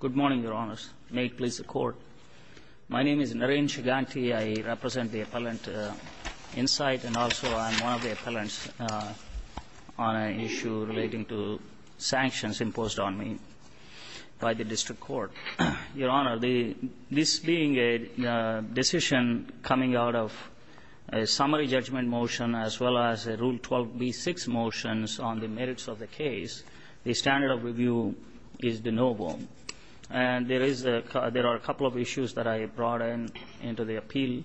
Good morning, Your Honors. May it please the Court. My name is Narendra Shiganti. I represent the Appellant Insight, and also I'm one of the appellants on an issue relating to sanctions imposed on me by the District Court. Your Honor, this being a decision coming out of a summary judgment motion as well as a Rule 12b-6 motion on the merits of the case, the standard of review is de novo. And there are a couple of issues that I brought into the appeal,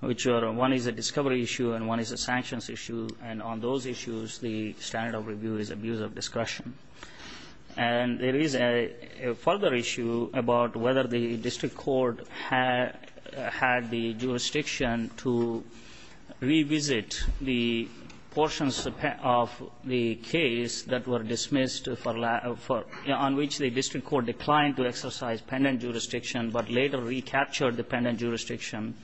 which one is a discovery issue and one is a sanctions issue, and on those issues the standard of review is abuse of discretion. And there is a further issue about whether the District Court had the jurisdiction to revisit the portions of the case that were dismissed on which the District Court declined to exercise pendent jurisdiction but later recaptured the pendent jurisdiction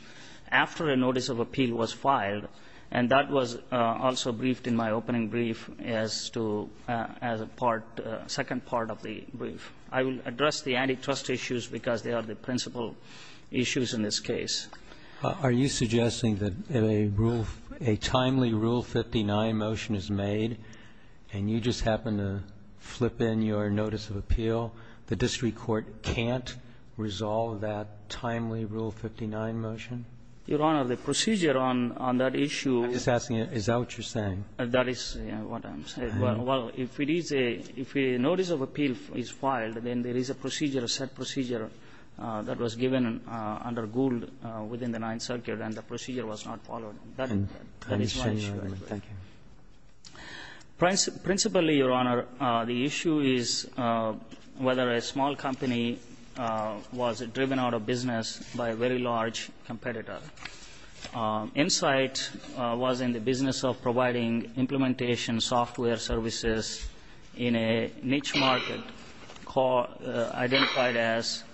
after a notice of appeal was filed. And that was also briefed in my opening brief as to as a part, second part of the brief. I will address the antitrust issues because they are the principal issues in this case. Are you suggesting that a timely Rule 59 motion is made and you just happen to flip in your notice of appeal? The District Court can't resolve that timely Rule 59 motion? Your Honor, the procedure on that issue — I'm just asking, is that what you're saying? That is what I'm saying. Well, if it is a — if a notice of appeal is filed, then there is a procedure, a set procedure that was given under Gould within the Ninth Circuit and the procedure was not followed. That is my issue. Thank you. Principally, Your Honor, the issue is whether a small company was driven out of business by a very large competitor. Insight was in the business of providing implementation software services in a niche market identified as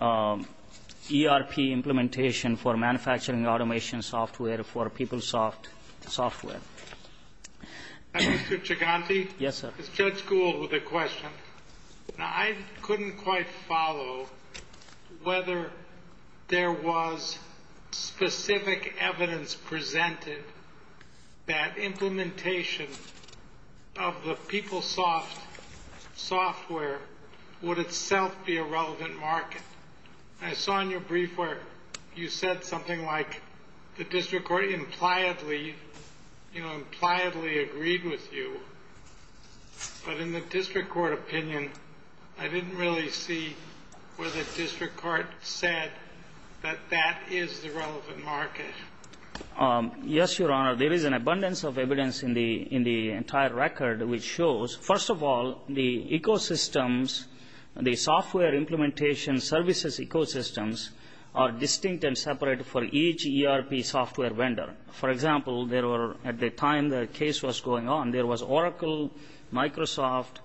ERP implementation for manufacturing automation software for PeopleSoft software. Mr. Chiganti? Yes, sir. Is Judge Gould with a question? I couldn't quite follow whether there was specific evidence presented that implementation of the PeopleSoft software would itself be a relevant market. I saw in your brief where you said something like the district court impliedly, you know, impliedly agreed with you. But in the district court opinion, I didn't really see whether the district court said that that is the relevant market. Yes, Your Honor. There is an abundance of evidence in the entire record which shows, first of all, the ecosystems, the software implementation services ecosystems are distinct and separate for each ERP software vendor. For example, at the time the case was going on, there was Oracle, Microsoft,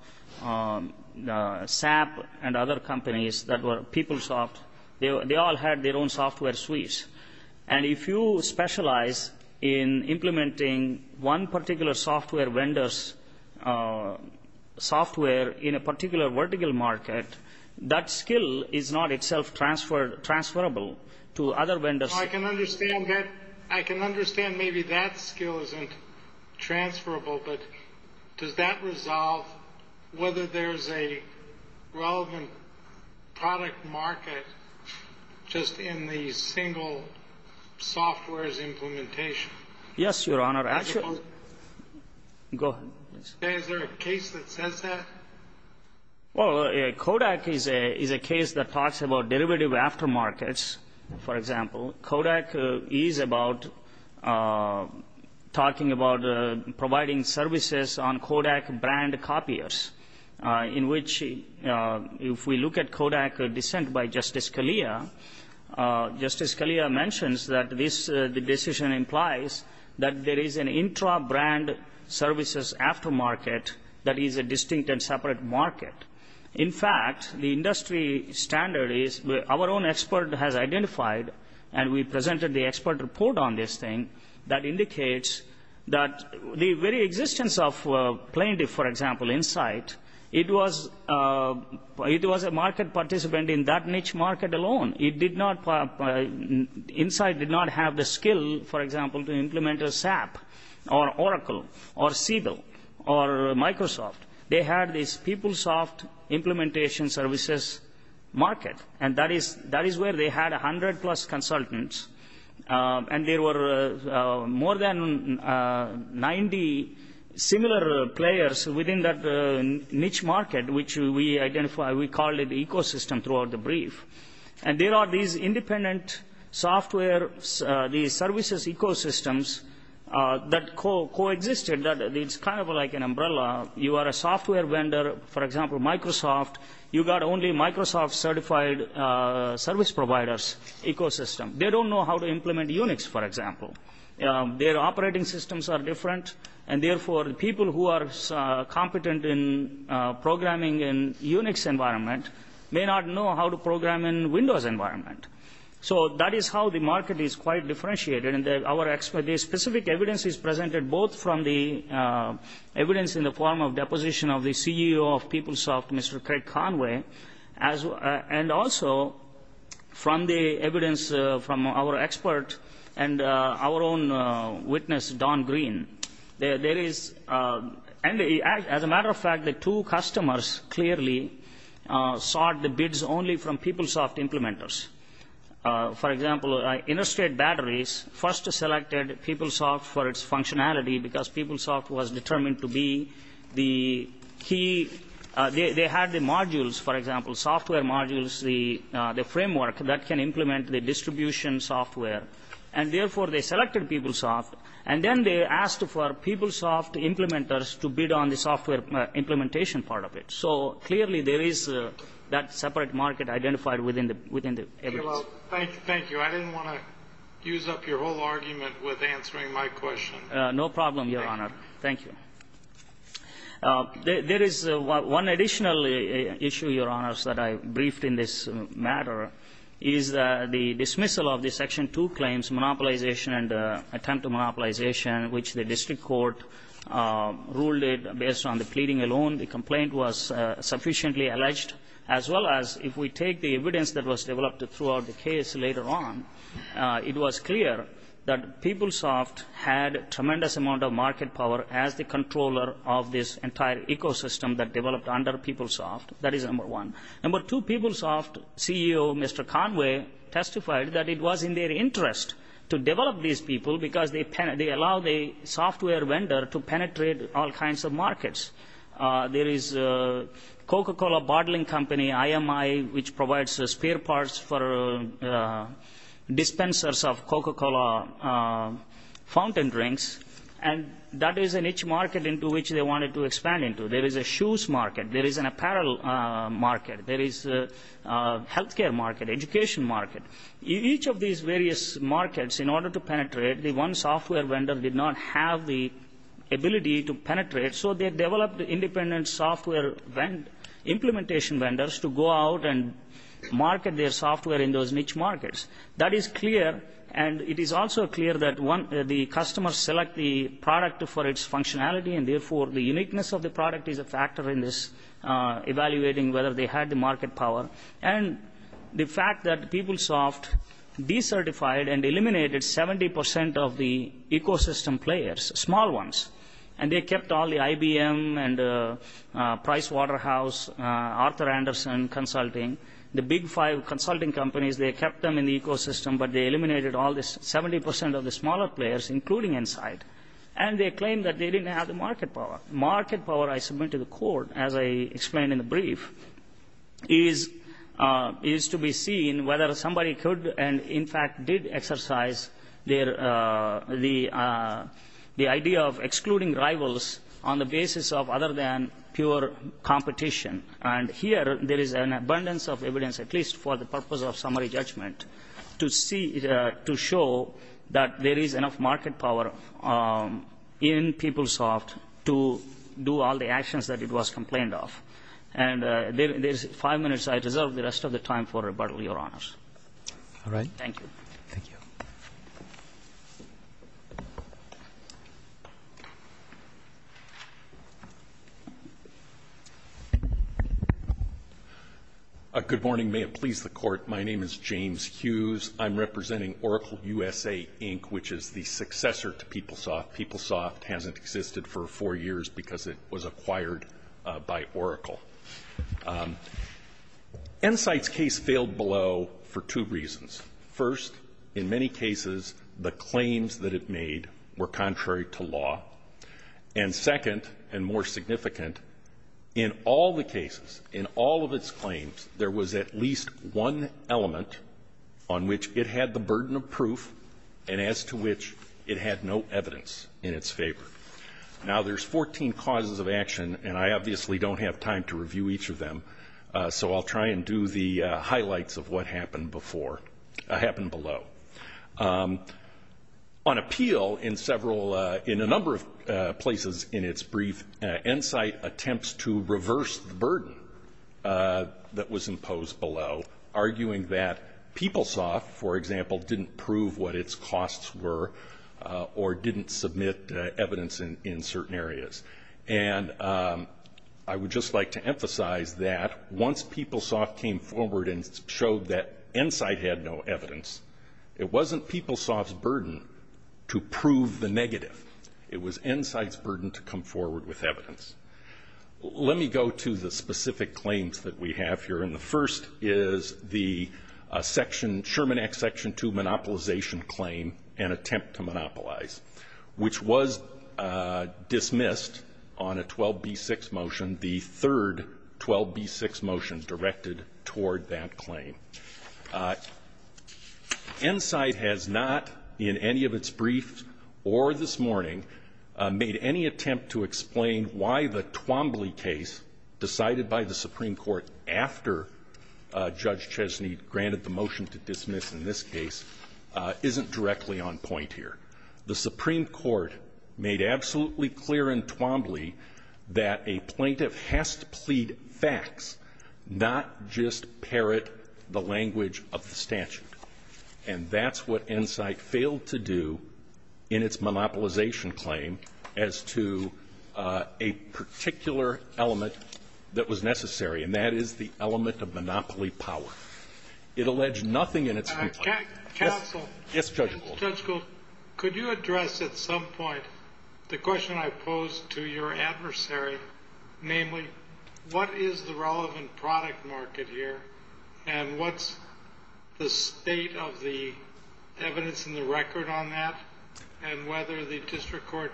SAP, and other companies that were PeopleSoft. They all had their own software suites. And if you specialize in implementing one particular software vendor's software in a particular vertical market, that skill is not itself transferable to other vendors. I can understand maybe that skill isn't transferable, but does that resolve whether there's a relevant product market just in the single software's implementation? Yes, Your Honor. Go ahead. Is there a case that says that? Well, Kodak is a case that talks about derivative aftermarkets, for example. Kodak is about talking about providing services on Kodak brand copiers, in which if we look at Kodak dissent by Justice Scalia, Justice Scalia mentions that this decision implies that there is an intra-brand services aftermarket that is a distinct and separate market. In fact, the industry standard is our own expert has identified, and we presented the expert report on this thing that indicates that the very existence of plaintiff, for example, Insight, it was a market participant in that niche market alone. Insight did not have the skill, for example, to implement a SAP or Oracle or Siebel or Microsoft. They had this PeopleSoft implementation services market, and that is where they had 100-plus consultants, and there were more than 90 similar players within that niche market, which we identified. We called it the ecosystem throughout the brief. And there are these independent software, these services ecosystems that coexisted. It's kind of like an umbrella. You are a software vendor, for example, Microsoft. You've got only Microsoft-certified service providers ecosystem. They don't know how to implement Unix, for example. Their operating systems are different, and therefore people who are competent in programming in Unix environment may not know how to program in Windows environment. So that is how the market is quite differentiated. And the specific evidence is presented both from the evidence in the form of deposition of the CEO of PeopleSoft, Mr. Craig Conway, and also from the evidence from our expert and our own witness, Don Green. As a matter of fact, the two customers clearly sought the bids only from PeopleSoft implementers. For example, Interstate Batteries first selected PeopleSoft for its functionality because PeopleSoft was determined to be the key. They had the modules, for example, software modules, the framework that can implement the distribution software, and therefore they selected PeopleSoft, and then they asked for PeopleSoft implementers to bid on the software implementation part of it. So clearly there is that separate market identified within the evidence. Thank you. I didn't want to use up your whole argument with answering my question. No problem, Your Honor. Thank you. There is one additional issue, Your Honors, that I briefed in this matter, is the dismissal of the Section 2 claims, monopolization and attempt to monopolization, which the district court ruled based on the pleading alone. The complaint was sufficiently alleged. As well as if we take the evidence that was developed throughout the case later on, it was clear that PeopleSoft had a tremendous amount of market power as the controller of this entire ecosystem that developed under PeopleSoft. That is number one. Number two, PeopleSoft CEO, Mr. Conway, testified that it was in their interest to develop these people because they allow the software vendor to penetrate all kinds of markets. There is Coca-Cola bottling company, IMI, which provides spare parts for dispensers of Coca-Cola fountain drinks, and that is a niche market into which they wanted to expand into. There is a shoes market. There is an apparel market. There is a health care market, education market. Each of these various markets, in order to penetrate, the one software vendor did not have the ability to penetrate, so they developed independent software implementation vendors to go out and market their software in those niche markets. That is clear, and it is also clear that the customers select the product for its functionality, and therefore the uniqueness of the product is a factor in this evaluating whether they had the market power. And the fact that PeopleSoft decertified and eliminated 70% of the ecosystem players, small ones, and they kept all the IBM and Pricewaterhouse, Arthur Anderson Consulting, the big five consulting companies, they kept them in the ecosystem, but they eliminated all the 70% of the smaller players, including Insight, and they claimed that they didn't have the market power. Market power, I submit to the court, as I explained in the brief, is to be seen whether somebody could and, in fact, did exercise the idea of excluding rivals on the basis of other than pure competition. And here there is an abundance of evidence, at least for the purpose of summary judgment, to show that there is enough market power in PeopleSoft to do all the actions that it was complained of. And there's five minutes. I deserve the rest of the time for rebuttal, Your Honors. All right. Thank you. Thank you. Good morning. May it please the court, my name is James Hughes. I'm representing Oracle USA, Inc., which is the successor to PeopleSoft. PeopleSoft hasn't existed for four years because it was acquired by Oracle. Insight's case failed below for two reasons. First, in many cases the claims that it made were contrary to law. And second, and more significant, in all the cases, in all of its claims, there was at least one element on which it had the burden of proof and as to which it had no evidence in its favor. Now, there's 14 causes of action, and I obviously don't have time to review each of them, so I'll try and do the highlights of what happened before, happened below. On appeal in several, in a number of places in its brief, Insight attempts to reverse the burden that was imposed below, arguing that PeopleSoft, for example, didn't prove what its costs were or didn't submit evidence in certain areas. And I would just like to emphasize that once PeopleSoft came forward and showed that Insight had no evidence, it wasn't PeopleSoft's burden to prove the negative. It was Insight's burden to come forward with evidence. Let me go to the specific claims that we have here. And the first is the section, Sherman Act Section 2, monopolization claim and attempt to monopolize, which was dismissed on a 12b6 motion, the third 12b6 motion directed toward that claim. Insight has not, in any of its briefs or this morning, made any attempt to explain why the Twombly case decided by the Supreme Court after Judge Chesney granted the motion to dismiss in this case isn't directly on point here. The Supreme Court made absolutely clear in Twombly that a plaintiff has to plead facts, not just parrot the language of the statute. And that's what Insight failed to do in its monopolization claim as to a particular element that was necessary, and that is the element of monopoly power. It alleged nothing in its complaint. Counsel. Yes, Judge Gold. Judge Gold, could you address at some point the question I posed to your adversary, namely what is the relevant product market here and what's the state of the evidence in the record on that and whether the district court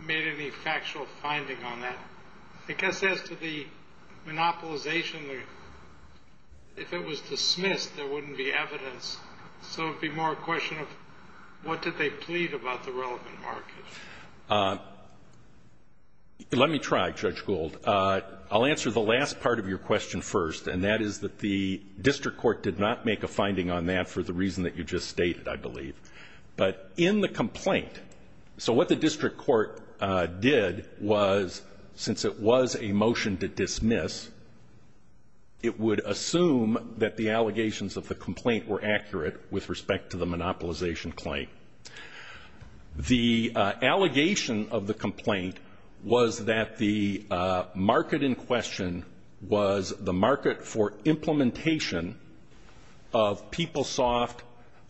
made any factual finding on that? Because as to the monopolization, if it was dismissed, there wouldn't be evidence. So it would be more a question of what did they plead about the relevant market. Let me try, Judge Gold. I'll answer the last part of your question first, and that is that the district court did not make a finding on that for the reason that you just stated, I believe. But in the complaint, so what the district court did was since it was a motion to dismiss, it would assume that the allegations of the complaint were accurate with respect to the monopolization claim. The allegation of the complaint was that the market in question was the market for implementation of PeopleSoft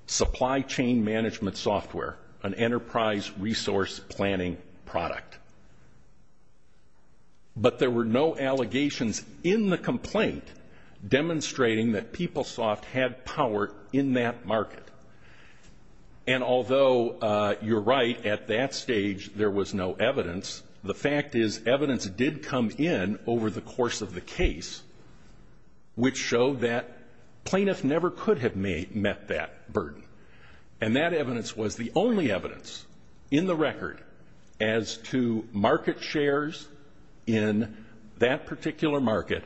supply chain management software, an enterprise resource planning product. But there were no allegations in the complaint demonstrating that PeopleSoft had power in that market. And although you're right, at that stage there was no evidence, the fact is evidence did come in over the course of the case, which showed that plaintiffs never could have met that burden. And that evidence was the only evidence in the record as to market shares in that particular market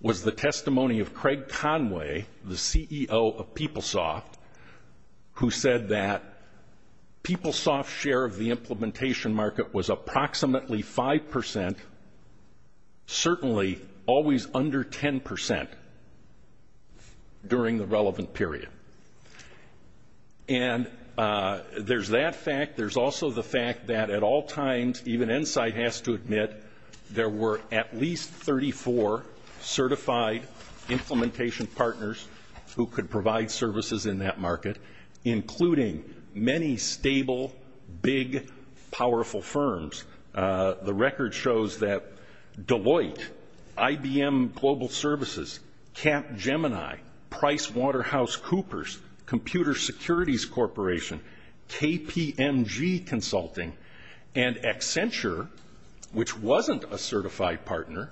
was the testimony of Craig Conway, the CEO of PeopleSoft, who said that PeopleSoft's share of the implementation market was approximately 5%, certainly always under 10% during the relevant period. And there's that fact. And that at all times, even Insight has to admit, there were at least 34 certified implementation partners who could provide services in that market, including many stable, big, powerful firms. The record shows that Deloitte, IBM Global Services, Capgemini, PricewaterhouseCoopers, Computer Securities Corporation, KPMG Consulting, and Accenture, which wasn't a certified partner,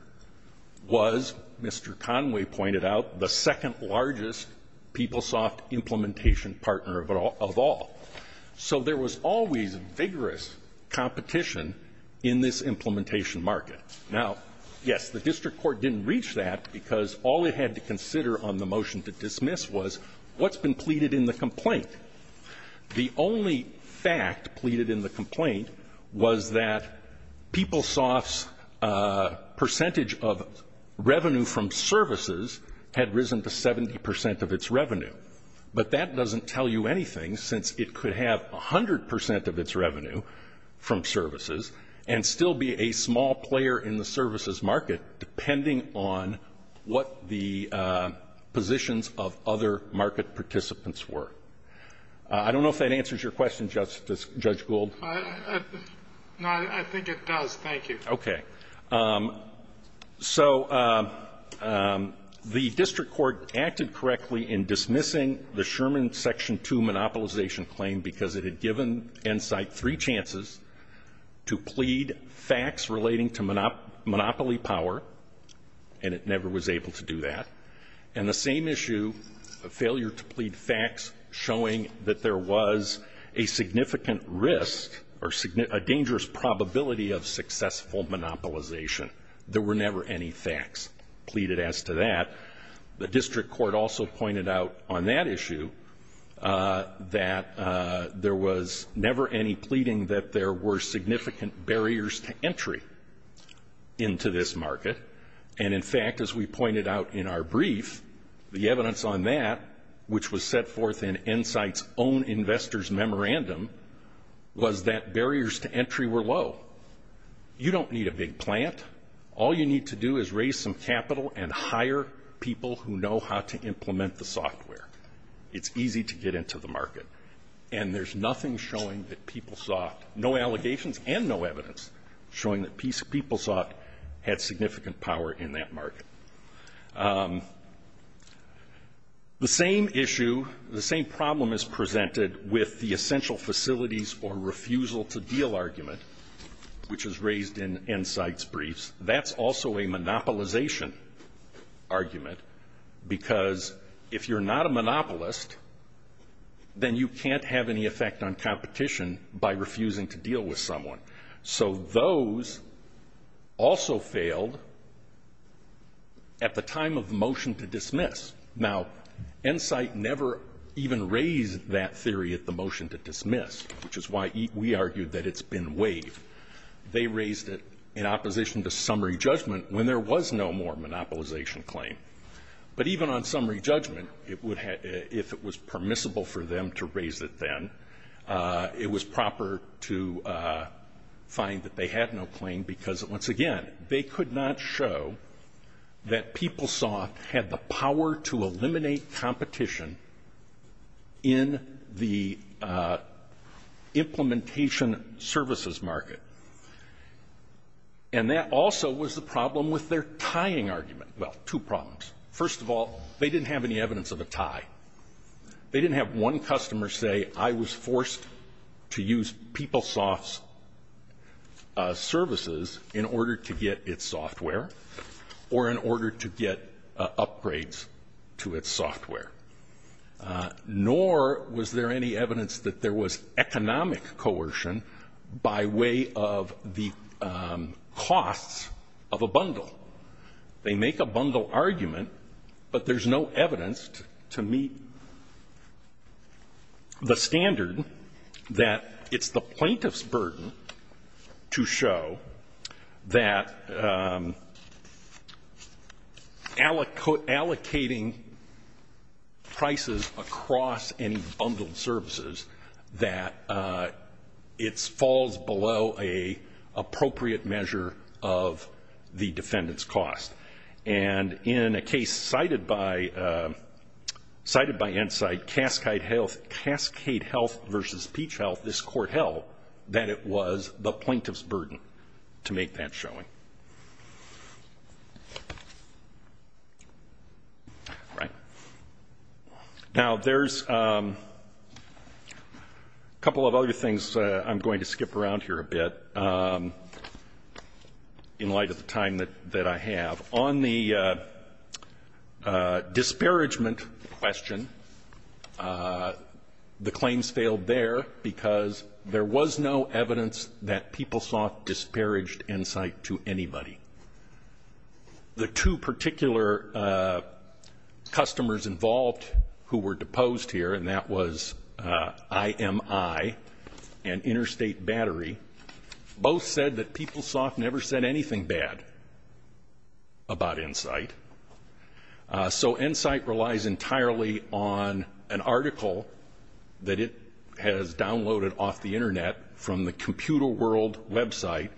was, Mr. Conway pointed out, the second largest PeopleSoft implementation partner of all. So there was always vigorous competition in this implementation market. Now, yes, the district court didn't reach that because all it had to consider on the motion to dismiss was what's been pleaded in the complaint. The only fact pleaded in the complaint was that PeopleSoft's percentage of revenue from services had risen to 70% of its revenue. But that doesn't tell you anything, since it could have 100% of its revenue from services and still be a small player in the services market, depending on what the positions of other market participants were. I don't know if that answers your question, Judge Gould. No, I think it does. Thank you. Okay. So the district court acted correctly in dismissing the Sherman Section 2 monopolization claim because it had given Insight three chances to plead facts relating to monopoly power, and it never was able to do that. And the same issue, a failure to plead facts showing that there was a significant risk or a dangerous probability of successful monopolization. There were never any facts pleaded as to that. The district court also pointed out on that issue that there was never any pleading that there were significant barriers to entry into this market. And, in fact, as we pointed out in our brief, the evidence on that, which was set forth in Insight's own investor's memorandum, was that barriers to entry were low. You don't need a big plant. All you need to do is raise some capital and hire people who know how to implement the software. It's easy to get into the market. And there's nothing showing that PeopleSoft, no allegations and no evidence, showing that PeopleSoft had significant power in that market. The same issue, the same problem is presented with the essential facilities or refusal to deal argument, which is raised in Insight's briefs. That's also a monopolization argument because if you're not a monopolist, then you can't have any effect on competition by refusing to deal with someone. So those also failed at the time of the motion to dismiss. Now, Insight never even raised that theory at the motion to dismiss, which is why we argued that it's been waived. They raised it in opposition to summary judgment when there was no more monopolization claim. But even on summary judgment, if it was permissible for them to raise it then, it was proper to find that they had no claim because, once again, they could not show that PeopleSoft had the power to eliminate competition in the implementation services market. And that also was the problem with their tying argument. Well, two problems. First of all, they didn't have any evidence of a tie. They didn't have one customer say, I was forced to use PeopleSoft's services in order to get its software or in order to get upgrades to its software. Nor was there any evidence that there was economic coercion by way of the costs of a bundle. They make a bundle argument, but there's no evidence to meet the standard that it's the plaintiff's burden to show that allocating prices across any bundled services that it falls below an appropriate measure of the defendant's cost. And in a case cited by Insight, Cascade Health versus Peach Health, this court held that it was the plaintiff's burden to make that showing. All right. Now, there's a couple of other things I'm going to skip around here a bit in light of the time that I have. On the disparagement question, the claims failed there because there was no evidence that PeopleSoft disparaged Insight to anybody. The two particular customers involved who were deposed here, and that was IMI and Interstate Battery, both said that PeopleSoft never said anything bad about Insight. So Insight relies entirely on an article that it has downloaded off the Internet from the Computer World website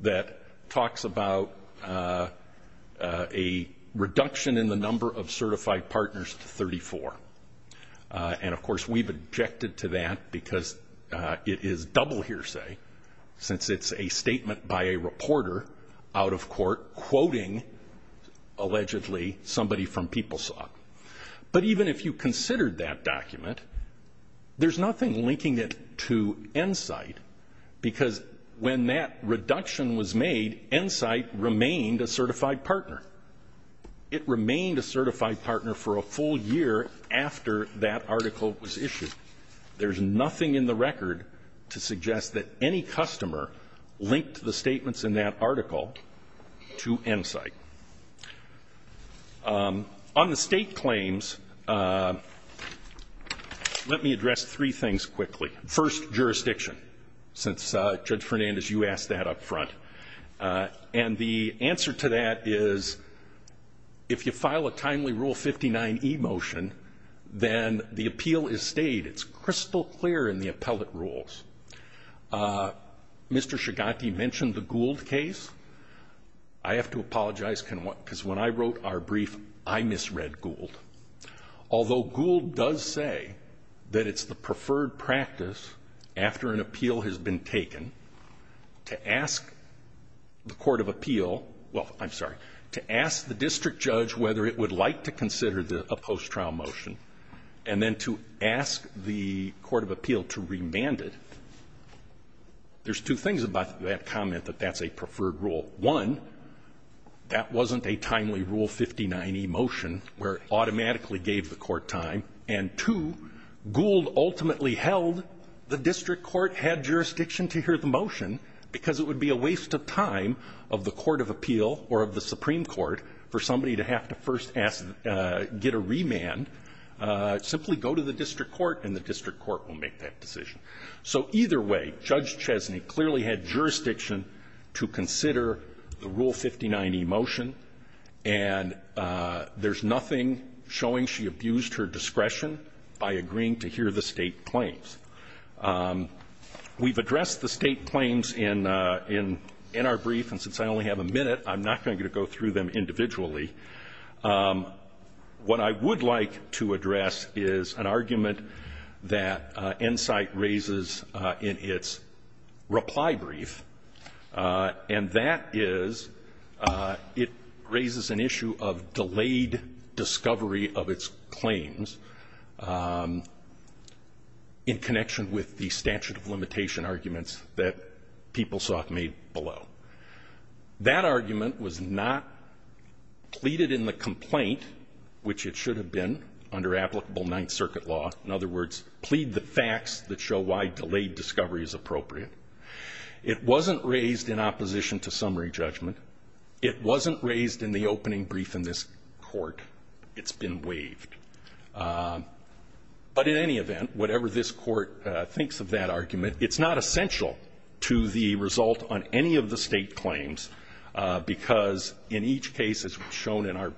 that talks about a reduction in the number of certified partners to 34. And, of course, we've objected to that because it is double hearsay since it's a statement by a reporter out of court quoting, allegedly, somebody from PeopleSoft. But even if you considered that document, there's nothing linking it to Insight because when that reduction was made, Insight remained a certified partner. It remained a certified partner for a full year after that article was issued. There's nothing in the record to suggest that any customer linked the statements in that article to Insight. On the state claims, let me address three things quickly. First, jurisdiction, since Judge Fernandez, you asked that up front. And the answer to that is if you file a timely Rule 59e motion, then the appeal is stayed. It's crystal clear in the appellate rules. Mr. Shigati mentioned the Gould case. I have to apologize because when I wrote our brief, I misread Gould. Although Gould does say that it's the preferred practice after an appeal has been taken to ask the court of appeal, well, I'm sorry, to ask the district judge whether it would like to consider a post-trial motion and then to ask the court of appeal to remand it, there's two things about that comment that that's a preferred rule. One, that wasn't a timely Rule 59e motion where it automatically gave the court time. And two, Gould ultimately held the district court had jurisdiction to hear the motion because it would be a waste of time of the court of appeal or of the Supreme Court for somebody to have to first ask, get a remand, simply go to the district court and the district court will make that decision. So either way, Judge Chesney clearly had jurisdiction to consider the Rule 59e motion, and there's nothing showing she abused her discretion by agreeing to hear the State claims. We've addressed the State claims in our brief, and since I only have a minute, I'm not going to go through them individually. What I would like to address is an argument that Insight raises in its reply brief, and that is, it raises an issue of delayed discovery of its claims in connection with the statute of limitation arguments that Peoplesoft made below. That argument was not pleaded in the complaint, which it should have been under applicable Ninth Circuit law, in other words, plead the facts that show why delayed discovery is appropriate. It wasn't raised in opposition to summary judgment. It wasn't raised in the opening brief in this court. It's been waived. But in any event, whatever this court thinks of that argument, it's not essential to the result on any of the State claims because in each case, as shown in our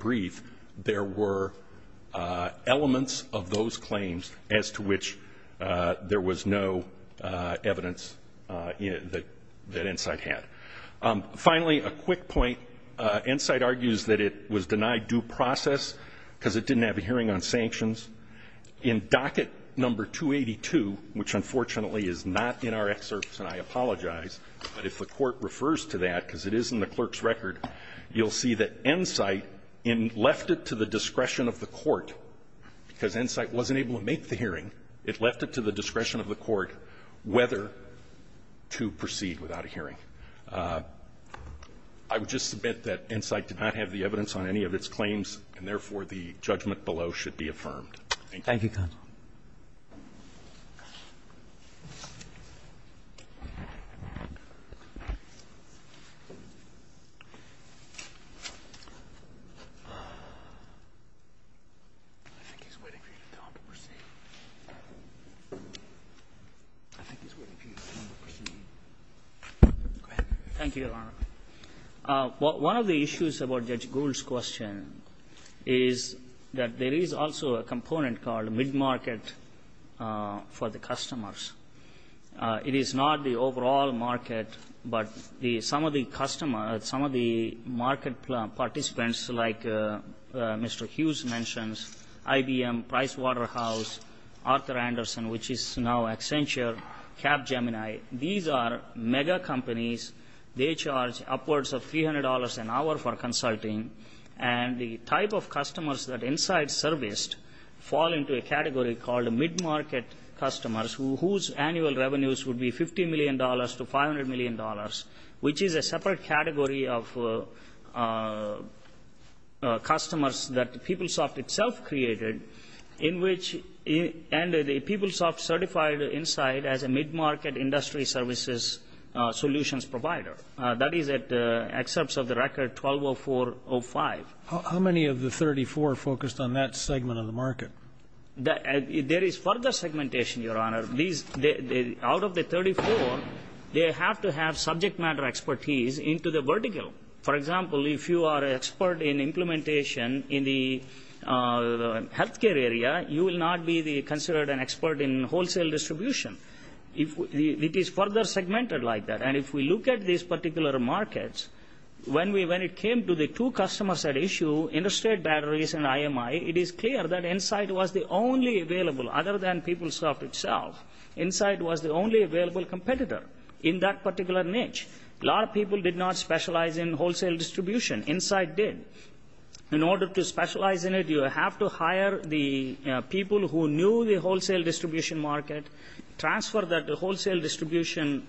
evidence, that Insight had. Finally, a quick point. Insight argues that it was denied due process because it didn't have a hearing on sanctions. In docket number 282, which unfortunately is not in our excerpts, and I apologize, but if the Court refers to that, because it is in the clerk's record, you'll see that Insight left it to the discretion of the Court, because Insight wasn't able to make the hearing. It left it to the discretion of the Court whether to proceed without a hearing. I would just submit that Insight did not have the evidence on any of its claims, and therefore, the judgment below should be affirmed. Thank you. Thank you, Your Honor. One of the issues about Judge Gould's question is that there is also a component called mid-market for the customers. It is not the overall market, but some of the customers, some of the market participants, like Mr. Hughes mentions, IBM, Pricewaterhouse, Arthur Anderson, which is now Accenture, Capgemini, these are mega companies. They charge upwards of $300 an hour for consulting, and the type of customers that Insight serviced fall into a category called mid-market customers, whose annual revenues would be $50 million to $500 million, which is a separate category of customers that PeopleSoft itself created, and PeopleSoft certified Insight as a mid-market industry services solutions provider. That is at excerpts of the record 120405. How many of the 34 focused on that segment of the market? There is further segmentation, Your Honor. Out of the 34, they have to have subject matter expertise into the vertical. For example, if you are an expert in implementation in the health care area, you will not be considered an expert in wholesale distribution. It is further segmented like that. And if we look at these particular markets, when it came to the two customers at issue, Interstate Batteries and IMI, it is clear that Insight was the only available, other than PeopleSoft itself. Insight was the only available competitor in that particular niche. A lot of people did not specialize in wholesale distribution. Insight did. In order to specialize in it, you have to hire the people who knew the wholesale distribution market, transfer that wholesale distribution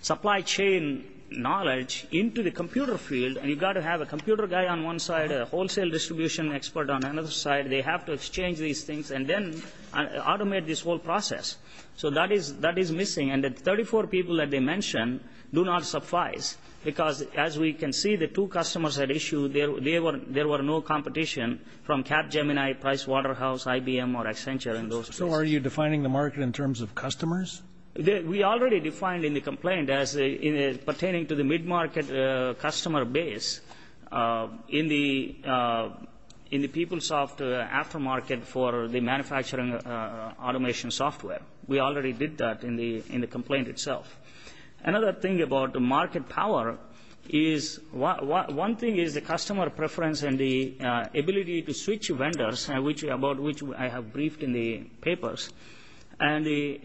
supply chain knowledge into the computer field, and you've got to have a computer guy on one side, a wholesale distribution expert on another side. They have to exchange these things and then automate this whole process. So that is missing. And the 34 people that they mentioned do not suffice because, as we can see, the two customers at issue, there were no competition from Capgemini, Price Waterhouse, IBM, or Accenture in those cases. So are you defining the market in terms of customers? We already defined in the complaint as pertaining to the mid-market customer base in the PeopleSoft aftermarket for the manufacturing automation software. We already did that in the complaint itself. Another thing about the market power is one thing is the customer preference and the ability to switch vendors, about which I have briefed in the papers, and the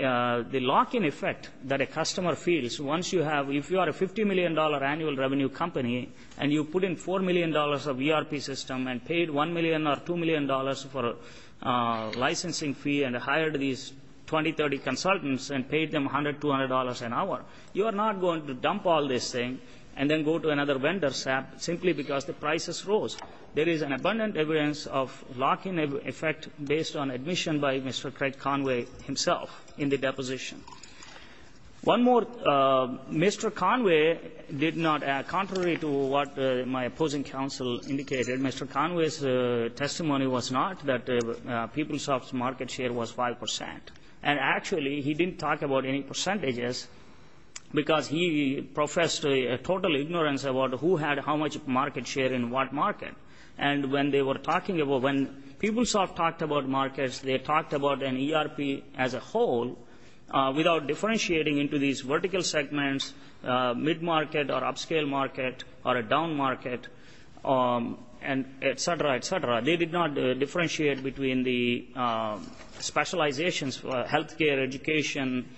lock-in effect that a customer feels once you have, if you are a $50 million annual revenue company and you put in $4 million of ERP system and paid $1 million or $2 million for a licensing fee and hired these 20, 30 consultants and paid them $100, $200 an hour, you are not going to dump all this thing and then go to another vendor simply because the prices rose. There is abundant evidence of lock-in effect based on admission by Mr. Craig Conway himself in the deposition. One more. Mr. Conway did not, contrary to what my opposing counsel indicated, Mr. Conway's testimony was not that PeopleSoft's market share was 5%. And actually he didn't talk about any percentages because he professed a total ignorance about who had how much market share in what market. And when they were talking about, when PeopleSoft talked about markets, they talked about an ERP as a whole without differentiating into these vertical segments, mid-market or upscale market or a down market, et cetera, et cetera. They did not differentiate between the specializations for health care, education,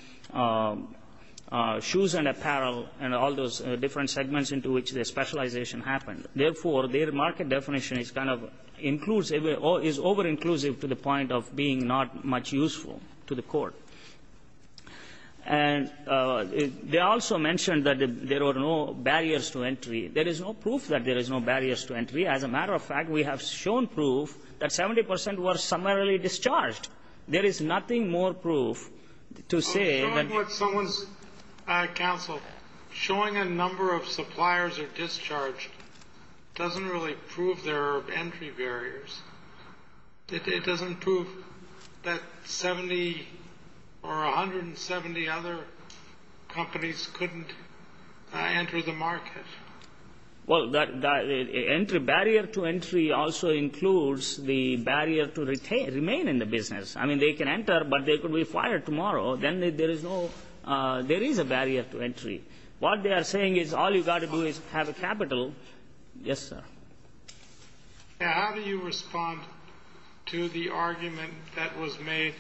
shoes and apparel and all those different segments into which the specialization happened. Therefore, their market definition is kind of inclusive, is over-inclusive to the point of being not much useful to the court. And they also mentioned that there were no barriers to entry. There is no proof that there is no barriers to entry. As a matter of fact, we have shown proof that 70 percent were summarily discharged. There is nothing more proof to say that you can't do that. I'm showing what someone's counsel, showing a number of suppliers are discharged doesn't really prove there are entry barriers. It doesn't prove that 70 or 170 other companies couldn't enter the market. Well, barrier to entry also includes the barrier to remain in the business. I mean, they can enter, but they could be fired tomorrow. Then there is a barrier to entry. What they are saying is all you've got to do is have a capital. Yes, sir. Now, how do you respond to the argument that was made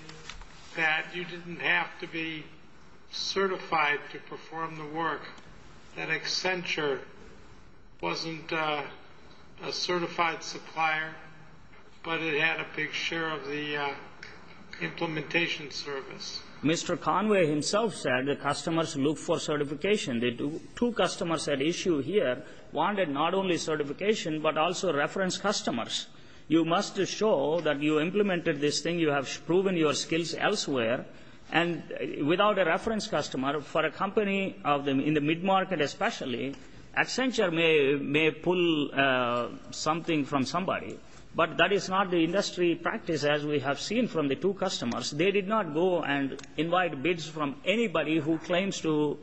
that you didn't have to be certified to perform the work, that Accenture wasn't a certified supplier, but it had a big share of the implementation service? Mr. Conway himself said the customers look for certification. The two customers at issue here wanted not only certification but also reference customers. You must show that you implemented this thing, you have proven your skills elsewhere, and without a reference customer, for a company in the mid-market especially, Accenture may pull something from somebody, but that is not the industry practice as we have seen from the two customers. They did not go and invite bids from anybody who claims to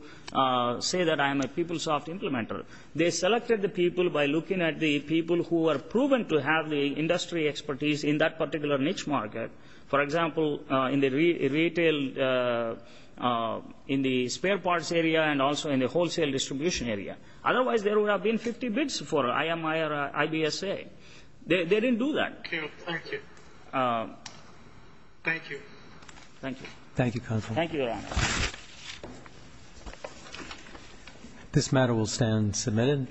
say that I am a PeopleSoft implementer. They selected the people by looking at the people who are proven to have the industry expertise in that particular niche market, for example, in the retail, in the spare parts area and also in the wholesale distribution area. Otherwise, there would have been 50 bids for IMI or IBSA. They didn't do that. Thank you. Thank you. Thank you. Thank you. Thank you, counsel. Thank you, Your Honor. This matter will stand submitted.